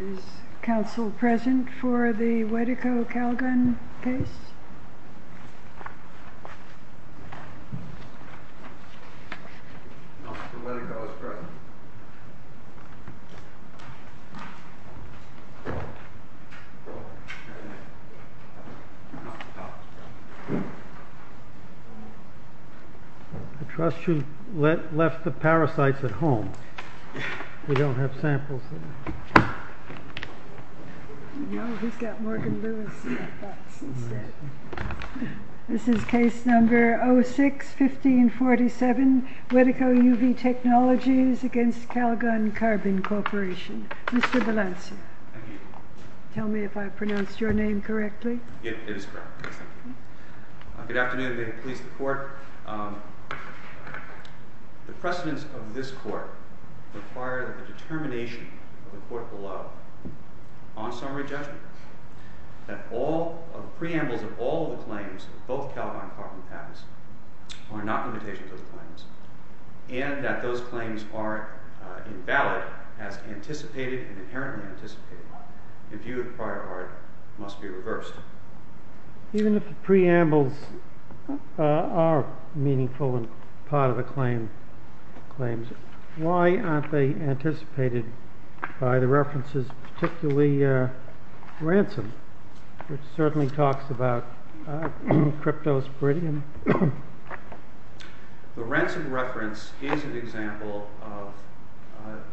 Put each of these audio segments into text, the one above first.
Is counsel present for the Wedeco-Calgon case? I trust you left the parasites at home. We don't have samples. This is case number 06-1547 Wedeco UV Technologies v. Calgon Carbon Corporation. Mr. Valencia, tell me if I pronounced your name correctly. It is correct. Good afternoon. May it please the court. The precedence of this court requires that the determination of the court below on summary judgment that all of the preambles of all of the claims of both Calgon Carbon patents are not limitations of those claims and that those claims are invalid as anticipated and inherently anticipated. The view of the prior art must be reversed. Even if the preambles are meaningful and part of the claims, why aren't they anticipated by the references, particularly ransom, which certainly talks about cryptosporidium? The ransom reference is an example of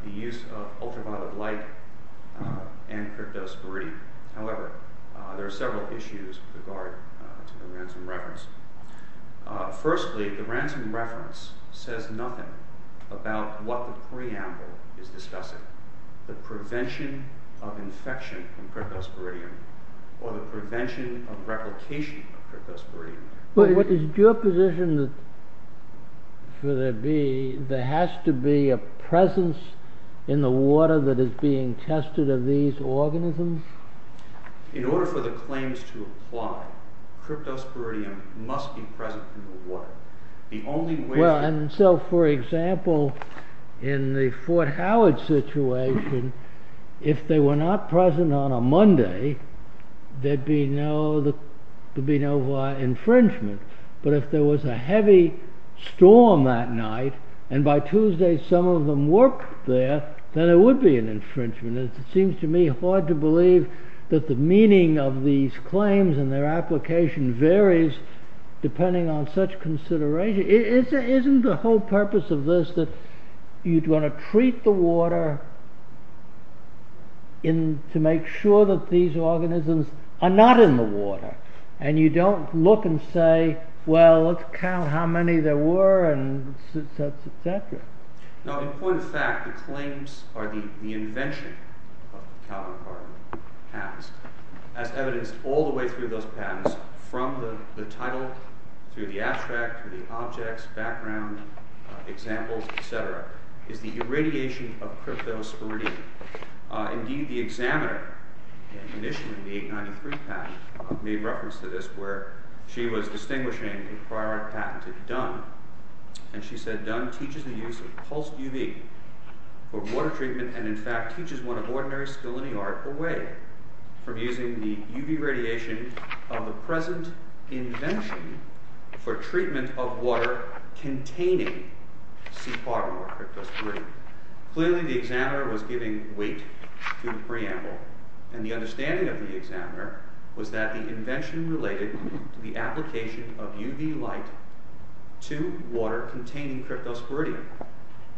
the use of ultraviolet light and cryptosporidium. However, there are several issues with regard to the ransom reference. Firstly, the ransom reference says nothing about what the preamble is discussing, the prevention of infection from cryptosporidium or the prevention of replication of cryptosporidium. But is it your position that there has to be a presence in the water that is being tested of these organisms? In order for the claims to apply, cryptosporidium must be present in the water. Well, and so, for example, in the Fort Howard situation, if they were not present on a Monday, there'd be no infringement. But if there was a heavy storm that night, and by Tuesday some of them work there, then there would be an infringement. It seems to me hard to believe that the meaning of these claims and their application varies depending on such consideration. Isn't the whole purpose of this that you'd want to treat the water to make sure that these organisms are not in the water? And you don't look and say, well, let's count how many there were and such, etc. Now, in point of fact, the claims are the invention of the Calvin-Carton patterns, as evidenced all the way through those patterns, from the title, through the abstract, through the objects, background, examples, etc., is the irradiation of cryptosporidium. Indeed, the examiner, initially in the 1893 patent, made reference to this, where she was distinguishing a prior patent to Dunn. And she said, Dunn teaches the use of pulsed UV for water treatment, and in fact teaches one of ordinary scaline art away from using the UV radiation of the present invention for treatment of water containing C. parvimor cryptosporidium. Clearly, the examiner was giving weight to the preamble, and the understanding of the examiner was that the invention related to the application of UV light to water containing cryptosporidium.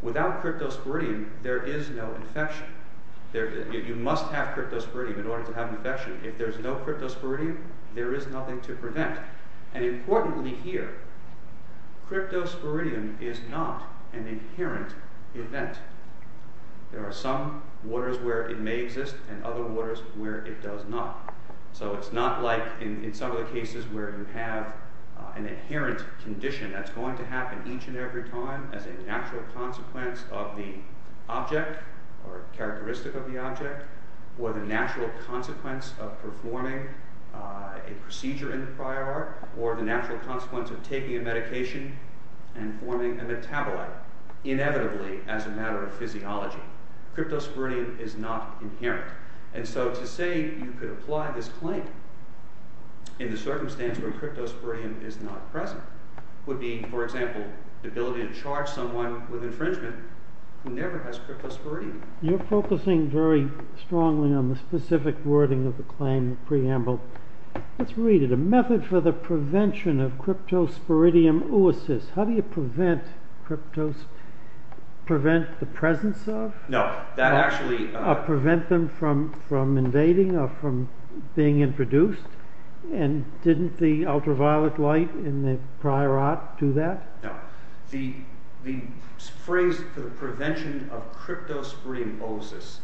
Without cryptosporidium, there is no infection. You must have cryptosporidium in order to have infection. If there is no cryptosporidium, there is nothing to prevent. And importantly here, cryptosporidium is not an inherent event. There are some waters where it may exist, and other waters where it does not. So it's not like in some of the cases where you have an inherent condition that's going to happen each and every time as a natural consequence of the object, or characteristic of the object, or the natural consequence of performing a procedure in the prior art, or the natural consequence of taking a medication and forming a metabolite, inevitably as a matter of physiology. Cryptosporidium is not inherent. And so to say you could apply this claim in the circumstance where cryptosporidium is not present would be, for example, the ability to charge someone with infringement who never has cryptosporidium. You're focusing very strongly on the specific wording of the claim in the preamble. Let's read it. A method for the prevention of cryptosporidium oocysts. How do you prevent the presence of? No, that actually... Or prevent them from invading or from being introduced? And didn't the ultraviolet light in the prior art do that? No. The phrase for the prevention of cryptosporidium oocysts.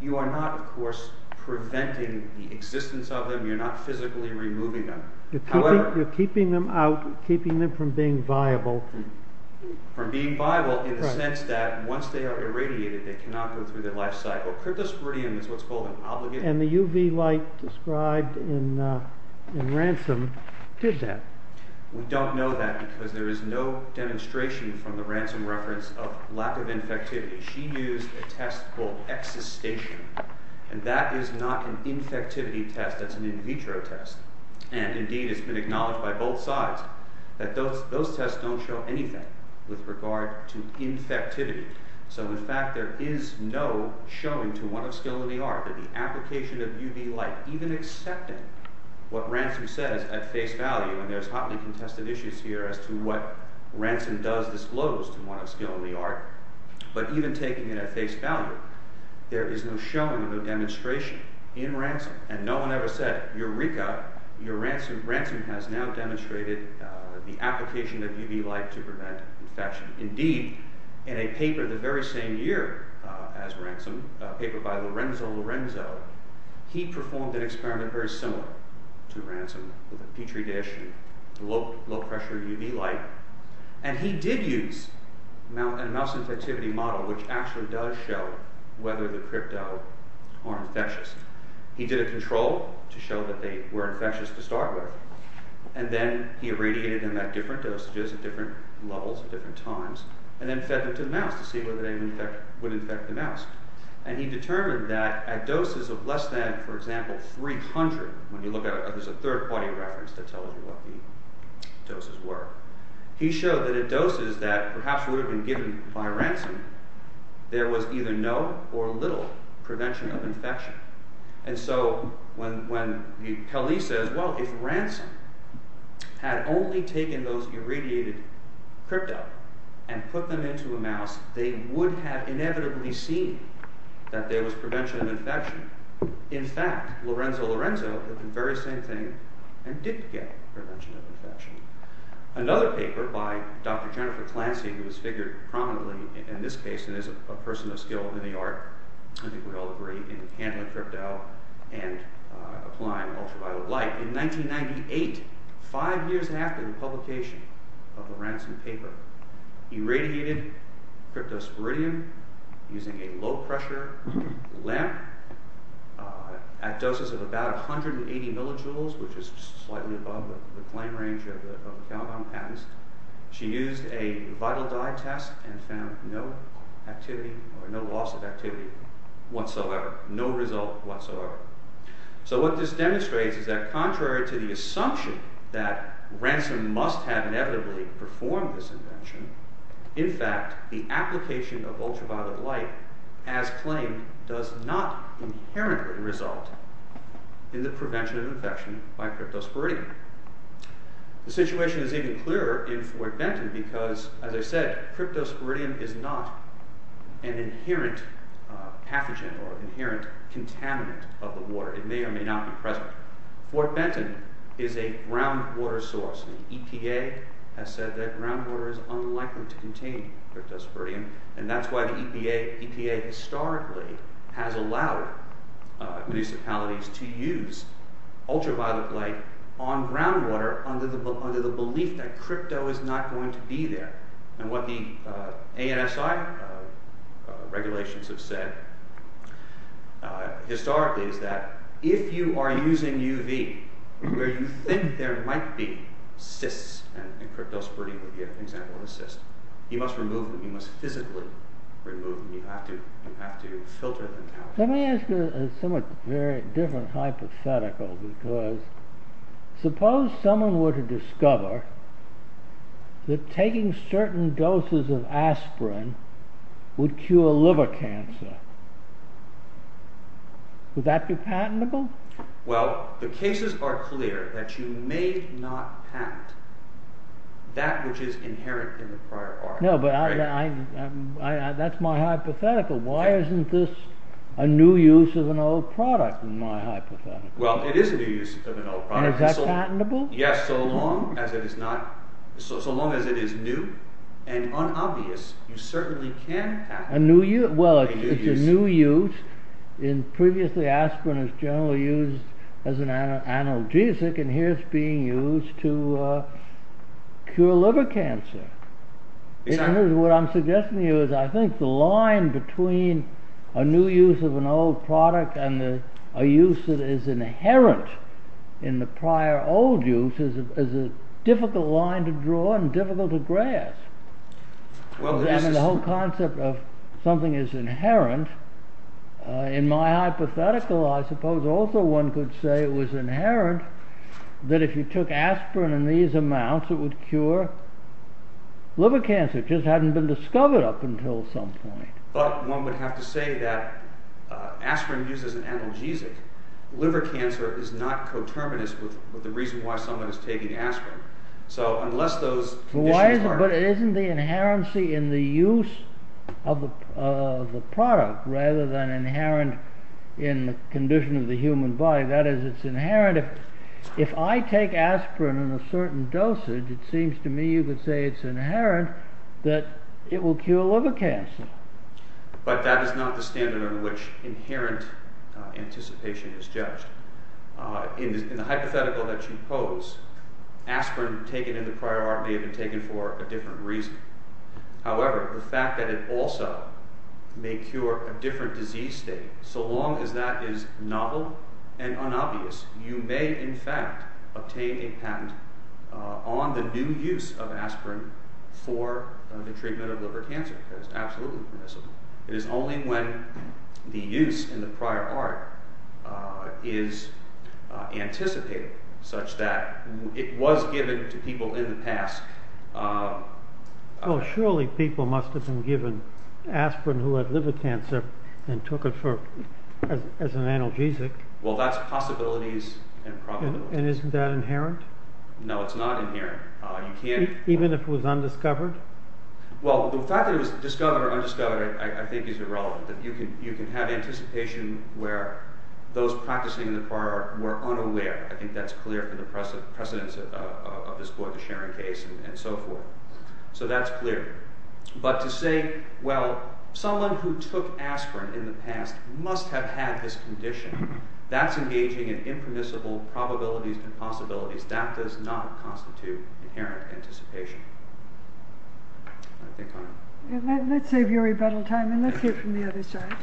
You are not, of course, preventing the existence of them. You're not physically removing them. You're keeping them out, keeping them from being viable. From being viable in the sense that once they are irradiated they cannot go through their life cycle. Cryptosporidium is what's called an obligate... And the UV light described in Ransom did that. We don't know that because there is no demonstration from the Ransom reference of lack of infectivity. She used a test called Existation, and that is not an infectivity test. That's an in vitro test. And, indeed, it's been acknowledged by both sides that those tests don't show anything with regard to infectivity. So, in fact, there is no showing to what a skill we are that the application of UV light, even accepting what Ransom says at face value, and there's hotly contested issues here as to what Ransom does disclose to what a skill we are, but even taking it at face value, there is no showing, no demonstration in Ransom. And no one ever said, Eureka, your Ransom has now demonstrated the application of UV light to prevent infection. Indeed, in a paper the very same year as Ransom, a paper by Lorenzo Lorenzo, he performed an experiment very similar to Ransom with a Petri dish and low-pressure UV light, and he did use a mouse infectivity model which actually does show whether the crypto are infectious. He did a control to show that they were infectious to start with, and then he irradiated them at different dosages, at different levels, at different times, and then fed them to the mouse to see whether they would infect the mouse. And he determined that at doses of less than, for example, 300, when you look at it, there's a third-party reference that tells you what the doses were, he showed that at doses that perhaps would have been given by Ransom, there was either no or little prevention of infection. And so when Kelly says, well, if Ransom had only taken those irradiated crypto and put them into a mouse, they would have inevitably seen that there was prevention of infection. In fact, Lorenzo Lorenzo did the very same thing and didn't get prevention of infection. Another paper by Dr. Jennifer Clancy, who is figured prominently in this case and is a person of skill in the art, I think we all agree, in handling crypto and applying ultraviolet light. In 1998, five years after the publication of the Ransom paper, irradiated cryptosporidium using a low-pressure lamp at doses of about 180 millijoules, which is slightly above the claim range of the Calabon patents. She used a vital dye test and found no activity, or no loss of activity whatsoever. No result whatsoever. So what this demonstrates is that contrary to the assumption that Ransom must have inevitably performed this invention, in fact, the application of ultraviolet light as claimed does not inherently result in the prevention of infection by cryptosporidium. The situation is even clearer in Fort Benton because, as I said, cryptosporidium is not an inherent pathogen or inherent contaminant of the water. It may or may not be present. Fort Benton is a groundwater source. The EPA has said that groundwater is unlikely to contain cryptosporidium and that's why the EPA historically has allowed municipalities to use ultraviolet light on groundwater under the belief that crypto is not going to be there. And what the ASI regulations have said historically is that if you are using UV where you think there might be cysts and cryptosporidium would be an example of a cyst, you must remove them. You must physically remove them. You have to filter them out. Let me ask you a somewhat different hypothetical because suppose someone were to discover that taking certain doses of aspirin would cure liver cancer. Would that be patentable? Well, the cases are clear that you may not patent that which is inherent in the prior article. No, but that's my hypothetical. Why isn't this a new use of an old product in my hypothetical? Well, it is a new use of an old product. Is that patentable? Yes, so long as it is new and unobvious, you certainly can patent it. Well, it's a new use. Previously aspirin was generally used as an analgesic and here it's being used to cure liver cancer. What I'm suggesting to you is I think the line between a new use of an old product and a use that is inherent in the prior old use is a difficult line to draw and difficult to grasp. The whole concept of something is inherent. In my hypothetical I suppose also one could say it was inherent that if you took aspirin in these amounts it would cure liver cancer. It just hadn't been discovered up until some point. But one would have to say that aspirin used as an analgesic. Liver cancer is not coterminous with the reason why someone is taking aspirin. So unless those conditions are... But isn't the inherency in the use of the product rather than inherent in the condition of the human body, that is it's inherent. If I take aspirin in a certain dosage it seems to me you could say it's inherent that it will cure liver cancer. But that is not the standard on which inherent anticipation is judged. In the hypothetical that you pose aspirin taken in the prior art may have been taken for a different reason. However, the fact that it also may cure a different disease state, so long as that is novel and unobvious, you may in fact obtain a patent on the new use of aspirin for the treatment of liver cancer. That is absolutely permissible. It is only when the use in the prior art is anticipated such that it was given to people in the past. Well surely people must have been given aspirin who had liver cancer and took it as an analgesic. Well, that's possibilities and probabilities. And isn't that inherent? No, it's not inherent. Even if it was undiscovered? Well, the fact that it was discovered or undiscovered I think is irrelevant. You can have anticipation where those practicing in the prior art were unaware. I think that's clear from the precedence of this Boyd to Sharon case and so forth. So that's clear. But to say, well, someone who took aspirin in the past must have had this condition. That's engaging in impermissible probabilities and possibilities. That does not constitute inherent anticipation. Let's save your rebuttal time and let's hear from the other side.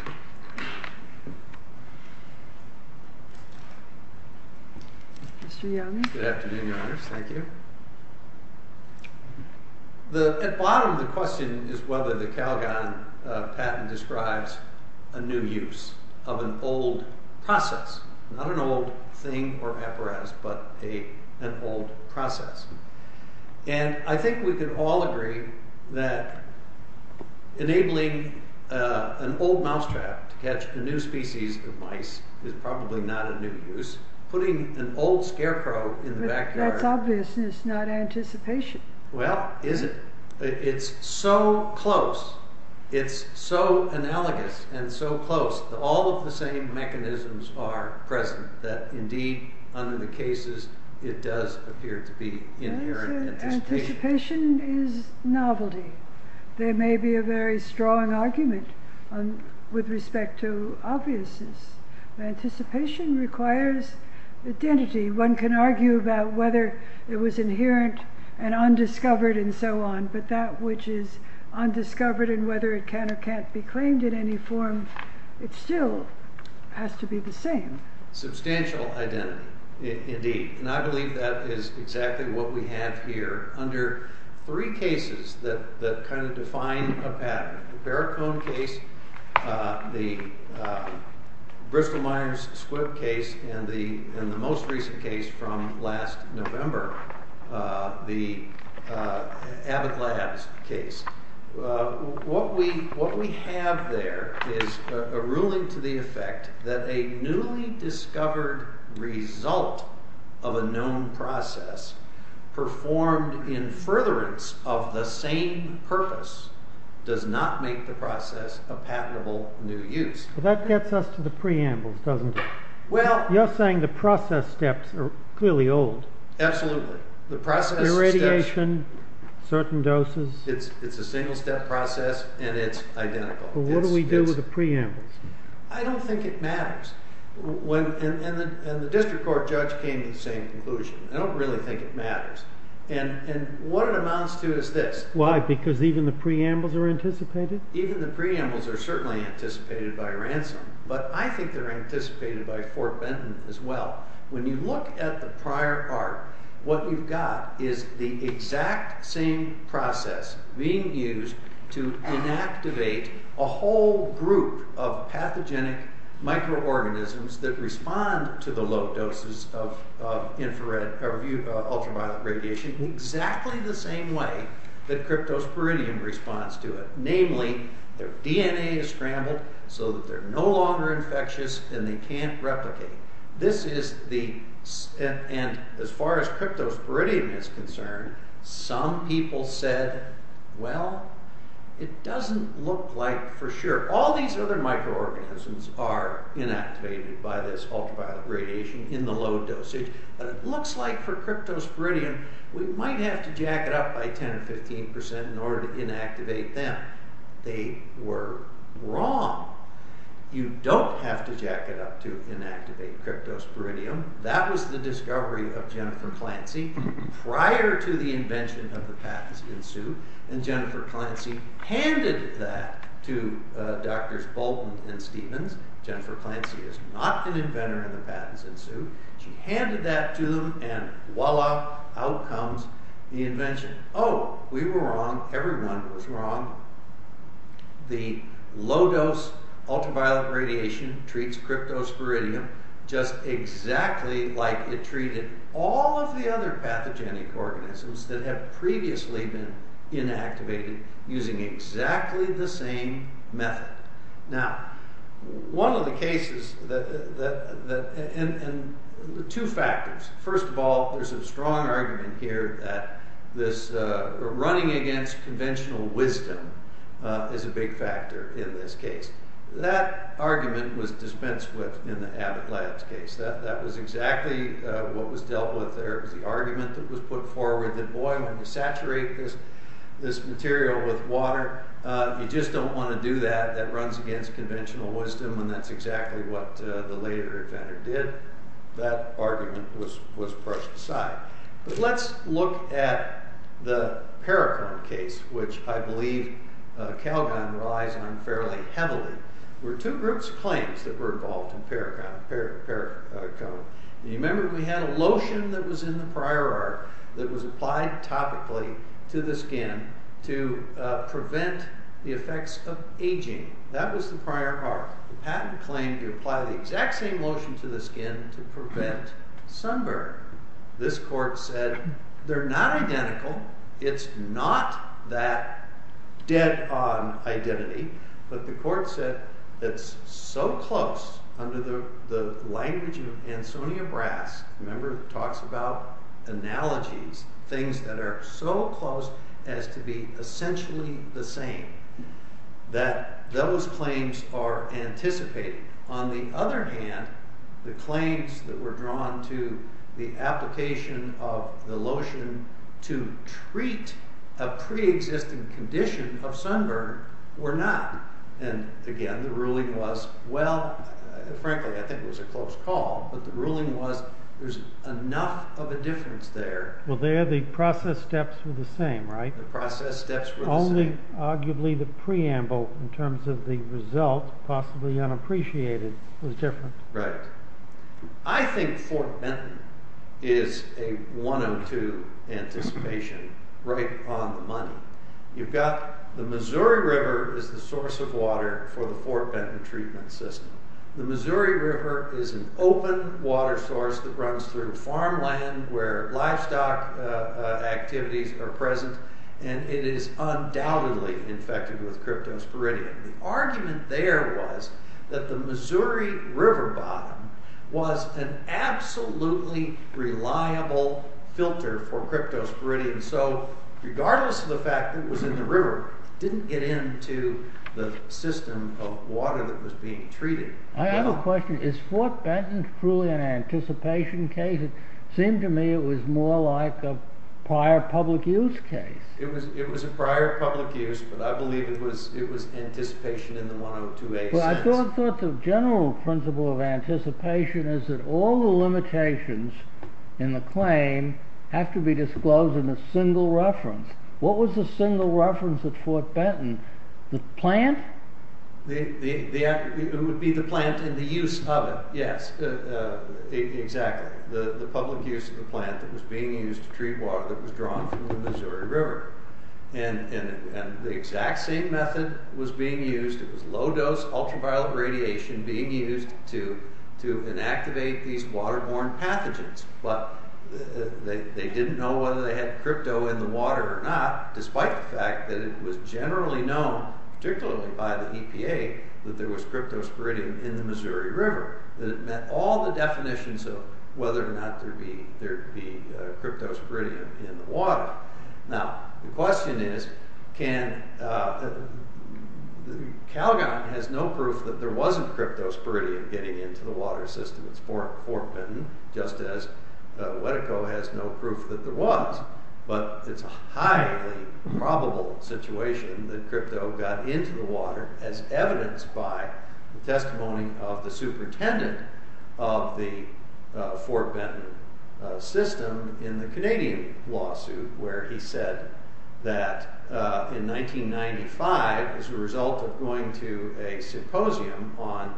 Mr. Young. Good afternoon, Your Honor. Thank you. At the bottom of the question is whether the Calgon patent describes a new use of an old process. Not an old thing or apparatus, but an old process. And I think we can all agree that enabling an old mousetrap to catch a new species of mice is probably not a new use. Putting an old scarecrow in the backyard... That's obvious and it's not anticipation. Well, is it? It's so close. It's so analogous and so close. All of the same mechanisms are present that indeed under the cases it does appear to be inherent anticipation. Anticipation is novelty. There may be a very strong argument with respect to obviousness. Anticipation requires identity. One can argue about whether it was inherent and undiscovered and so on, but that which is undiscovered and whether it can or can't be claimed in any form, it still has to be the same. Substantial identity, indeed. And I believe that is exactly what we have here under three cases that kind of define a pattern. The barricode case, the Bristol-Myers-Squibb case, and the most recent case from last November, the Abbott Labs case. What we have there is a ruling to the effect that a newly discovered result of a known process performed in furtherance of the same purpose does not make the process a patentable new use. That gets us to the preambles, doesn't it? You're saying the process steps are clearly old. Absolutely. Irradiation, certain doses. It's a single-step process and it's identical. But what do we do with the preambles? I don't think it matters. And the district court judge came to the same conclusion. I don't really think it matters. And what it amounts to is this. Why? Because even the preambles are anticipated? Even the preambles are certainly anticipated by ransom, but I think they're anticipated by Fort Benton as well. When you look at the prior art, what you've got is the exact same process being used to inactivate a whole group of pathogenic microorganisms that respond to the low doses of ultraviolet radiation in exactly the same way that cryptosporidium responds to it. Namely, their DNA is scrambled so that they're no longer infectious and they can't replicate. This is the... And as far as cryptosporidium is concerned, some people said, well, it doesn't look like for sure. All these other microorganisms are inactivated by this ultraviolet radiation in the low dosage, but it looks like for cryptosporidium we might have to jack it up by 10 or 15% in order to inactivate them. They were wrong. You don't have to jack it up to inactivate cryptosporidium. That was the discovery of Jennifer Clancy prior to the invention of the patents in Sioux, and Jennifer Clancy handed that to Drs. Bolton and Stevens. Jennifer Clancy is not an inventor in the patents in Sioux. She handed that to them, and voila, out comes the invention. Oh, we were wrong. Everyone was wrong. The low-dose ultraviolet radiation treats cryptosporidium just exactly like it treated all of the other pathogenic organisms that have previously been inactivated using exactly the same method. Now, one of the cases that... And two factors. First of all, there's a strong argument here that running against conventional wisdom is a big factor in this case. That argument was dispensed with in the Abbott Labs case. That was exactly what was dealt with there. It was the argument that was put forward that, boy, when you saturate this material with water, you just don't want to do that. That runs against conventional wisdom, and that's exactly what the later inventor did. That argument was brushed aside. But let's look at the Paracon case, which I believe Calgon relies on fairly heavily. There were two groups of claims that were involved in Paracon. You remember, we had a lotion that was in the prior arc that was applied topically to the skin to prevent the effects of aging. That was the prior arc. The patent claimed to apply the exact same lotion to the skin to prevent sunburn. This court said they're not identical. It's not that dead-on identity, but the court said it's so close under the language of Ansonia Brass. Remember, it talks about analogies, things that are so close as to be essentially the same, that those claims are anticipated. On the other hand, the claims that were drawn to the application of the lotion to treat a pre-existing condition of sunburn were not. And again, the ruling was, well, frankly, I think it was a close call, but the ruling was there's enough of a difference there. Well, there the process steps were the same, right? The process steps were the same. Only, arguably, the preamble in terms of the result, possibly unappreciated, was different. Right. I think Fort Benton is a 102 anticipation right on the money. You've got the Missouri River is the source of water for the Fort Benton treatment system. The Missouri River is an open water source that runs through farmland where livestock activities are present, and it is undoubtedly infected with cryptosporidium. The argument there was that the Missouri River bottom was an absolutely reliable filter for cryptosporidium. So, regardless of the fact that it was in the river, it didn't get into the system of water that was being treated. I have a question. Is Fort Benton truly an anticipation case? It seemed to me it was more like a prior public use case. It was a prior public use, but I believe it was anticipation in the 102A sense. Well, I thought the general principle of anticipation is that all the limitations in the claim have to be disclosed in a single reference. What was the single reference at Fort Benton? The plant? It would be the plant and the use of it, yes. Exactly. The public use of the plant that was being used to treat water that was drawn from the Missouri River. And the exact same method was being used. It was low-dose ultraviolet radiation being used to inactivate these waterborne pathogens. But they didn't know whether they had crypto in the water or not, despite the fact that it was generally known, particularly by the EPA, that there was cryptosporidium in the Missouri River. That it met all the definitions of whether or not there'd be cryptosporidium in the water. Now, the question is, can... Calgon has no proof that there wasn't cryptosporidium getting into the water system at Fort Benton, just as Wetiko has no proof that there was. But it's a highly probable situation that crypto got into the water as evidenced by the testimony of the superintendent of the Fort Benton system in the Canadian lawsuit, where he said that in 1995, as a result of going to a symposium on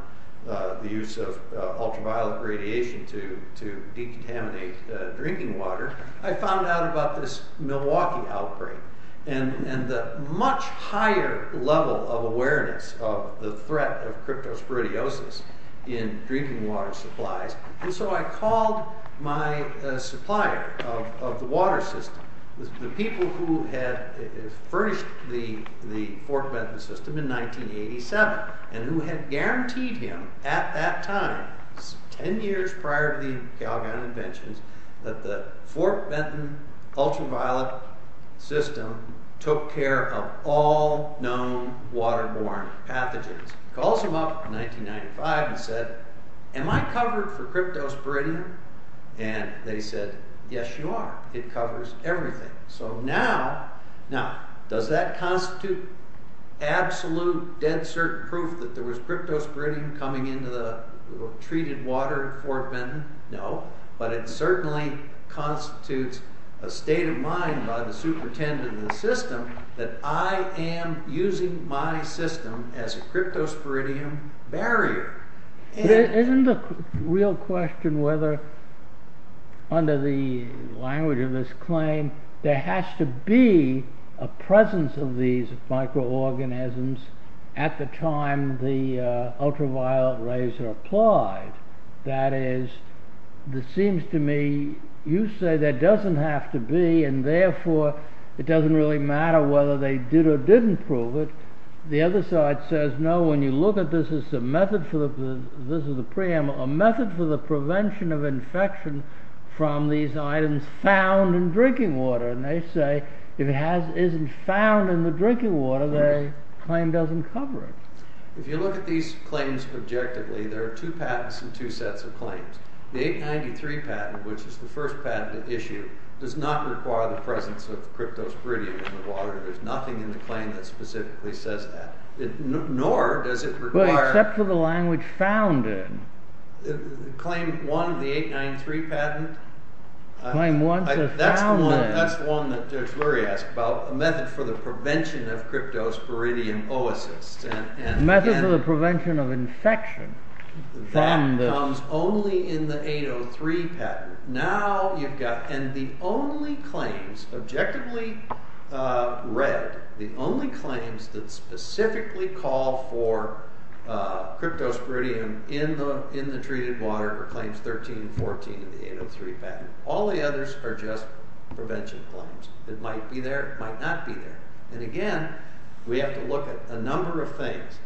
the use of ultraviolet radiation to decontaminate drinking water, I found out about this Milwaukee outbreak, and the much higher level of awareness of the threat of cryptosporidiosis in drinking water supplies. And so I called my supplier of the water system, the people who had furnished the Fort Benton system in 1987, and who had guaranteed him at that time, 10 years prior to the Calgon inventions, that the Fort Benton ultraviolet system took care of all known waterborne pathogens. Calls him up in 1995 and said, Am I covered for cryptosporidium? And they said, Yes, you are. It covers everything. So now, does that constitute absolute, dead certain proof that there was cryptosporidium coming into the treated water at Fort Benton? No. But it certainly constitutes a state of mind by the superintendent of the system that I am using my system as a cryptosporidium barrier. Isn't the real question whether, under the language of this claim, there has to be a presence of these microorganisms at the time the ultraviolet rays are applied? That is, it seems to me, you say there doesn't have to be and therefore, it doesn't really matter whether they did or didn't prove it. The other side says, no, when you look at this it's a method for the prevention of infection from these items found in drinking water. And they say, if it isn't found in the drinking water, the claim doesn't cover it. If you look at these claims objectively, there are two patents and two sets of claims. The 893 patent, which is the first patent to issue, does not require the presence of cryptosporidium in the water. There's nothing in the claim that specifically says that. Nor does it require... Except for the language found in. Claim 1 of the 893 patent? Claim 1 says found in. That's the one that Judge Rory asked about, a method for the prevention of cryptosporidium oasis. A method for the prevention of infection. That comes only in the 803 patent. Now you've got, and the only claims, objectively read, the only claims that specifically call for cryptosporidium in the treated water are claims 13 and 14 in the 803 patent. All the others are just prevention claims. It might be there, it might not be there. And again, we have to look at a number of things.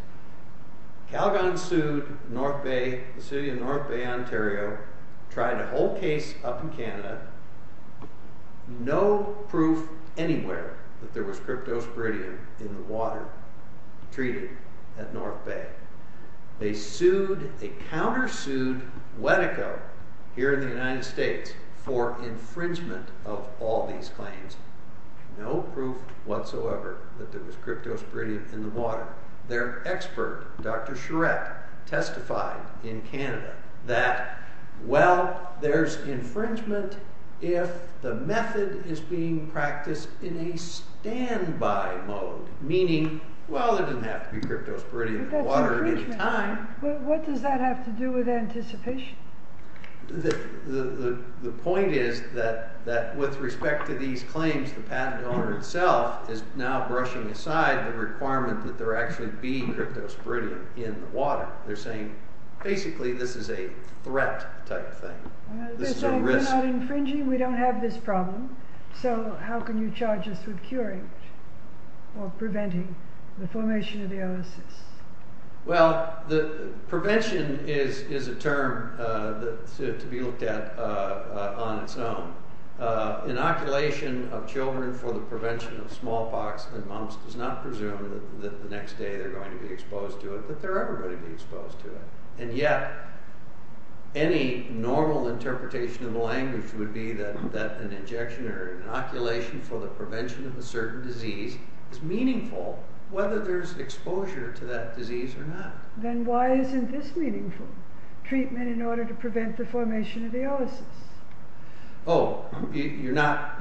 Calgon sued North Bay, the city of North Bay, Ontario, tried a whole case up in Canada. No proof anywhere that there was cryptosporidium in the water treated at North Bay. They sued, they counter-sued Wetico here in the United States for infringement of all these claims. No proof whatsoever that there was cryptosporidium in the water. Their expert, Dr. Charette, testified in Canada that, well, there's infringement if the method is being practiced in a standby mode, meaning, well, there doesn't have to be cryptosporidium in the water at any time. What does that have to do with anticipation? The point is that with respect to these claims, the patent owner itself is now brushing aside the requirement that there actually be cryptosporidium in the water. They're saying, basically, this is a threat type thing. This is a risk. We're not infringing, we don't have this problem, so how can you charge us with curing or preventing the formation of the oasis? Well, prevention is a term to be looked at on its own. Inoculation of children for the prevention of smallpox in mumps does not presume that the next day they're going to be exposed to it, that they're ever going to be exposed to it. And yet, any normal interpretation of the language would be that an injection or an inoculation for the prevention of a certain disease is meaningful whether there's exposure to that disease or not. Then why isn't this meaningful? Treatment in order to prevent the formation of the oasis. Oh, you're not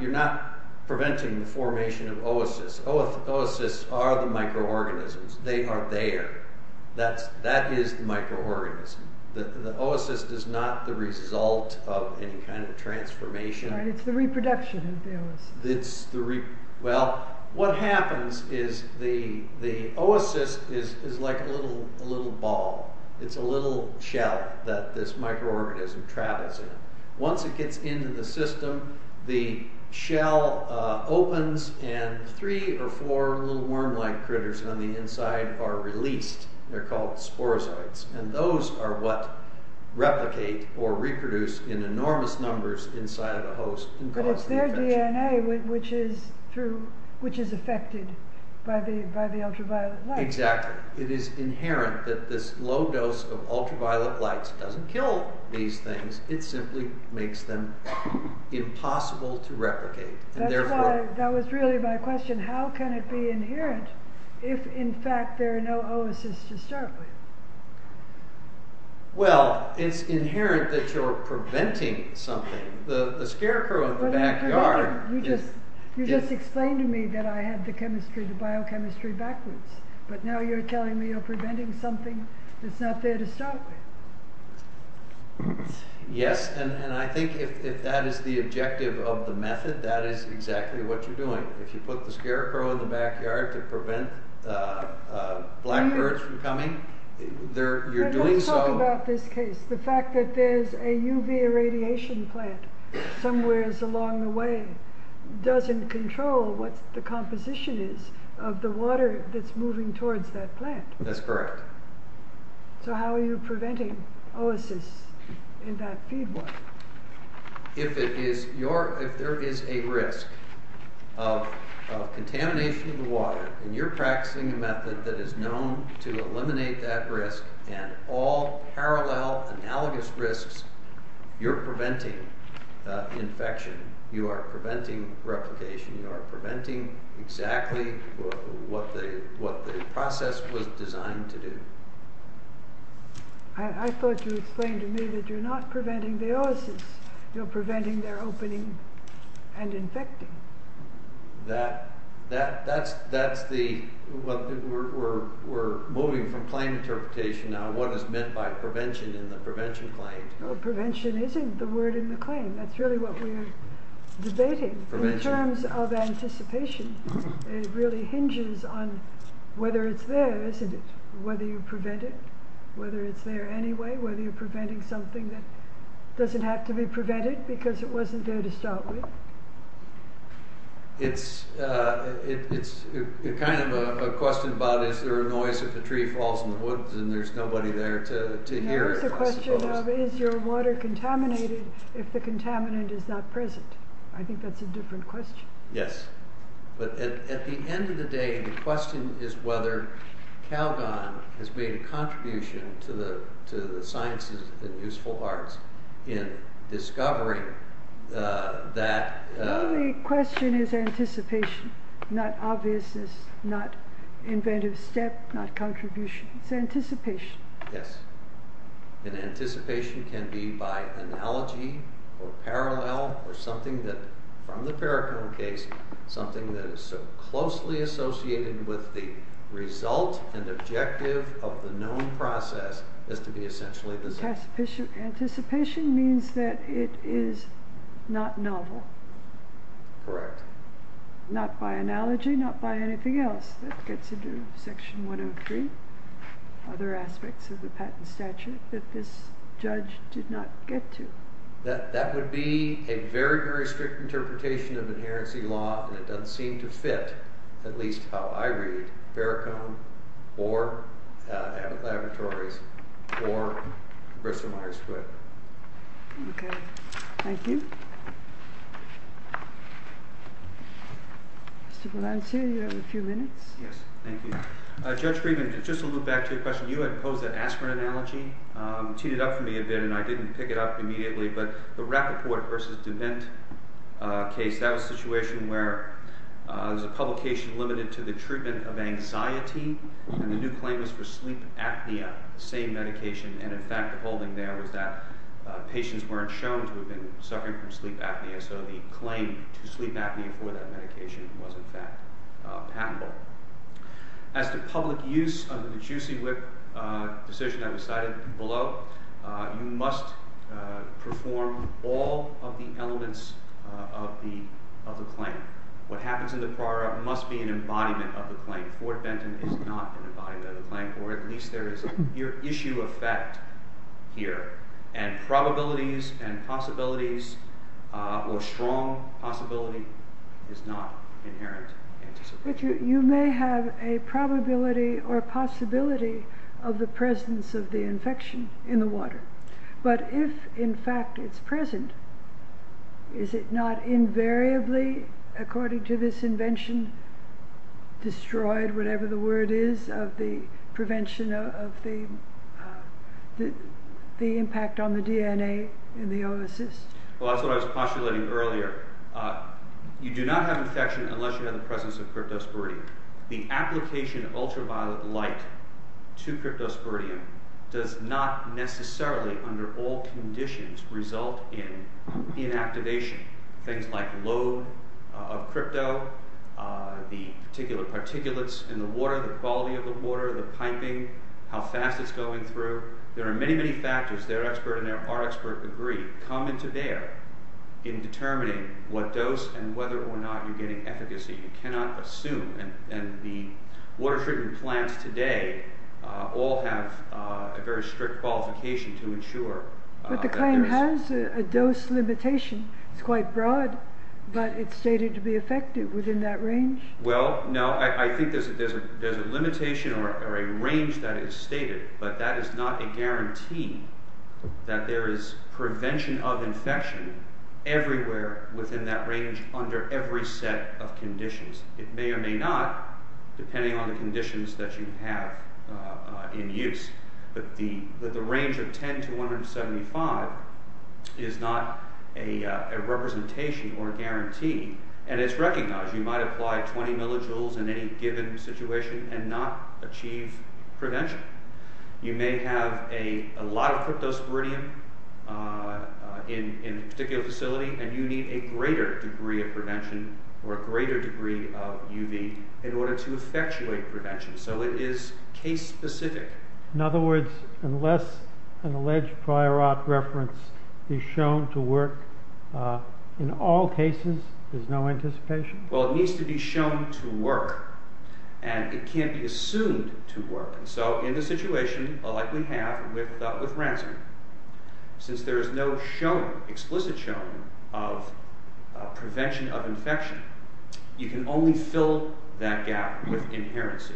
preventing the formation of oasis. Oasis are the microorganisms. They are there. That is the microorganism. The oasis is not the result of any kind of transformation. It's the reproduction of the oasis. Well, what happens is the oasis is like a little ball. It's a little shell that this microorganism travels in. Once it gets into the system, the shell opens and three or four little worm-like critters on the inside are released. They're called sporozoites. And those are what replicate or reproduce in enormous numbers inside of a host and cause the infection. But it's their DNA which is affected by the ultraviolet light. Exactly. It is inherent that this low dose of ultraviolet light doesn't kill these things. It simply makes them impossible to replicate. That was really my question. How can it be inherent if in fact there are no oasis to start with? Well, it's inherent that you're preventing something. The scarecrow in the backyard... You just explained to me that I had the chemistry, the biochemistry backwards. But now you're telling me you're preventing something that's not there to start with. Yes, and I think if that is the objective of the method, that is exactly what you're doing. If you put the scarecrow in the backyard to prevent black birds from coming, you're doing so... But let's talk about this case. The fact that there's a UV irradiation plant somewhere along the way doesn't control what the composition is of the water that's moving towards that plant. That's correct. So how are you preventing oasis in that feed water? If there is a risk of contamination of the water and you're practicing a method that is known to eliminate that risk and all parallel, analogous risks, you're preventing infection. You are preventing replication. You are preventing exactly what the process was designed to do. I thought you explained to me that you're not preventing the oasis. You're preventing their opening and infecting. That's the... We're moving from claim interpretation now to what is meant by prevention in the prevention claim. No, prevention isn't the word in the claim. That's really what we're debating. In terms of anticipation, it really hinges on whether it's there, isn't it? Whether you prevent it, whether it's there anyway, whether you're preventing something that doesn't have to be prevented because it wasn't there to start with. It's kind of a question about is there a noise if a tree falls in the woods and there's nobody there to hear it? There is a question of is your water contaminated if the contaminant is not present? I think that's a different question. Yes. But at the end of the day, the question is whether Calgon has made a contribution to the sciences and useful arts in discovering that... The only question is anticipation, not obviousness, not inventive step, not contribution. It's anticipation. Yes. And anticipation can be by analogy or parallel or something that, from the Perricone case, with the result and objective of the known process as to be essentially the same. So anticipation means that it is not novel. Correct. Not by analogy, not by anything else that gets into Section 103, other aspects of the patent statute that this judge did not get to. That would be a very, very strict interpretation of inherency law, and it doesn't seem to fit at least how I read Perricone or Abbott Laboratories or Bristol-Myers Court. Okay. Thank you. Mr. Polansky, you have a few minutes. Yes, thank you. Judge Friedman, just to look back to your question, you had posed that aspirin analogy, teed it up for me a bit, and I didn't pick it up immediately, but the Rappaport v. DeVint case, that was a situation where there was a publication limited to the treatment of anxiety, and the new claim was for sleep apnea, the same medication, and in fact the holding there was that patients weren't shown to have been suffering from sleep apnea, so the claim to sleep apnea for that medication was in fact patentable. As to public use of the Juicy Whip decision that was cited below, you must perform all of the elements of the claim. What happens in the prora must be an embodiment of the claim. Fort Benton is not an embodiment of the claim, or at least there is an issue of fact here, and probabilities and possibilities or strong possibility is not inherent in anticipation. You may have a probability or possibility of the presence of the infection in the water, but if in fact it's present, is it not invariably, according to this invention, destroyed, whatever the word is, of the prevention of the impact on the DNA in the oocyst? Well, that's what I was postulating earlier. You do not have infection unless you have the presence of cryptosporidium. The application of ultraviolet light to cryptosporidium does not necessarily, under all conditions, result in inactivation. Things like low of crypto, the particular particulates in the water, the quality of the water, the piping, how fast it's going through. There are many, many factors, their expert and our expert agree, come into bear in determining what dose and whether or not you're getting efficacy. You cannot assume, and the water treatment plants today all have a very strict qualification to ensure that there is... But the claim has a dose limitation. It's quite broad, but it's stated to be effective within that range. Well, no. I think there's a limitation or a range that is stated, but that is not a guarantee that there is prevention of infection everywhere within that range under every set of conditions. It may or may not, depending on the conditions that you have in use, but the range of 10 to 175 is not a representation or a guarantee, and it's recognized. You might apply 20 millijoules in any given situation and not achieve prevention. You may have a lot of cryptosporidium in a particular facility, and you need a greater degree of prevention or a greater degree of UV in order to effectuate prevention. So it is case-specific. In other words, unless an alleged prior art reference is shown to work in all cases, there's no anticipation? Well, it needs to be shown to work, and it can't be assumed to work. So in the situation like we have with ransomware, since there is no explicit showing of prevention of infection, you can only fill that gap with inherency.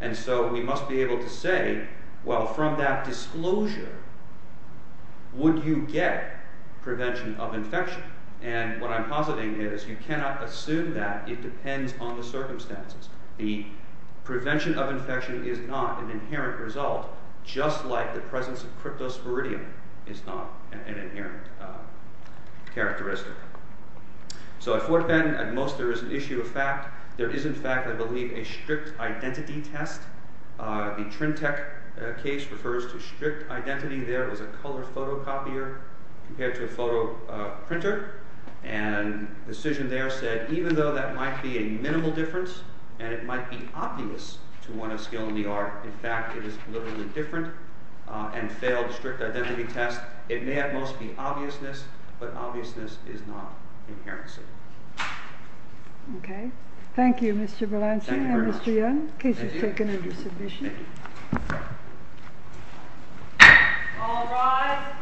And so we must be able to say, well, from that disclosure, would you get prevention of infection? And what I'm positing is you cannot assume that. It depends on the circumstances. The prevention of infection is not an inherent result, just like the presence of cryptosporidium is not an inherent characteristic. So at Fort Bend, at most there is an issue of fact. There is, in fact, I believe, a strict identity test. The Trimtech case refers to strict identity there. It was a color photocopier compared to a photo printer. And the decision there said even though that might be a minimal difference and it might be obvious to one of skill in the art, in fact, it is a little bit different and failed the strict identity test. It may at most be obviousness, but obviousness is not inherency. Okay. Thank you, Mr. Berlanti and Mr. Young. Thank you very much. The case is taken under submission. Thank you. All rise. Thank you.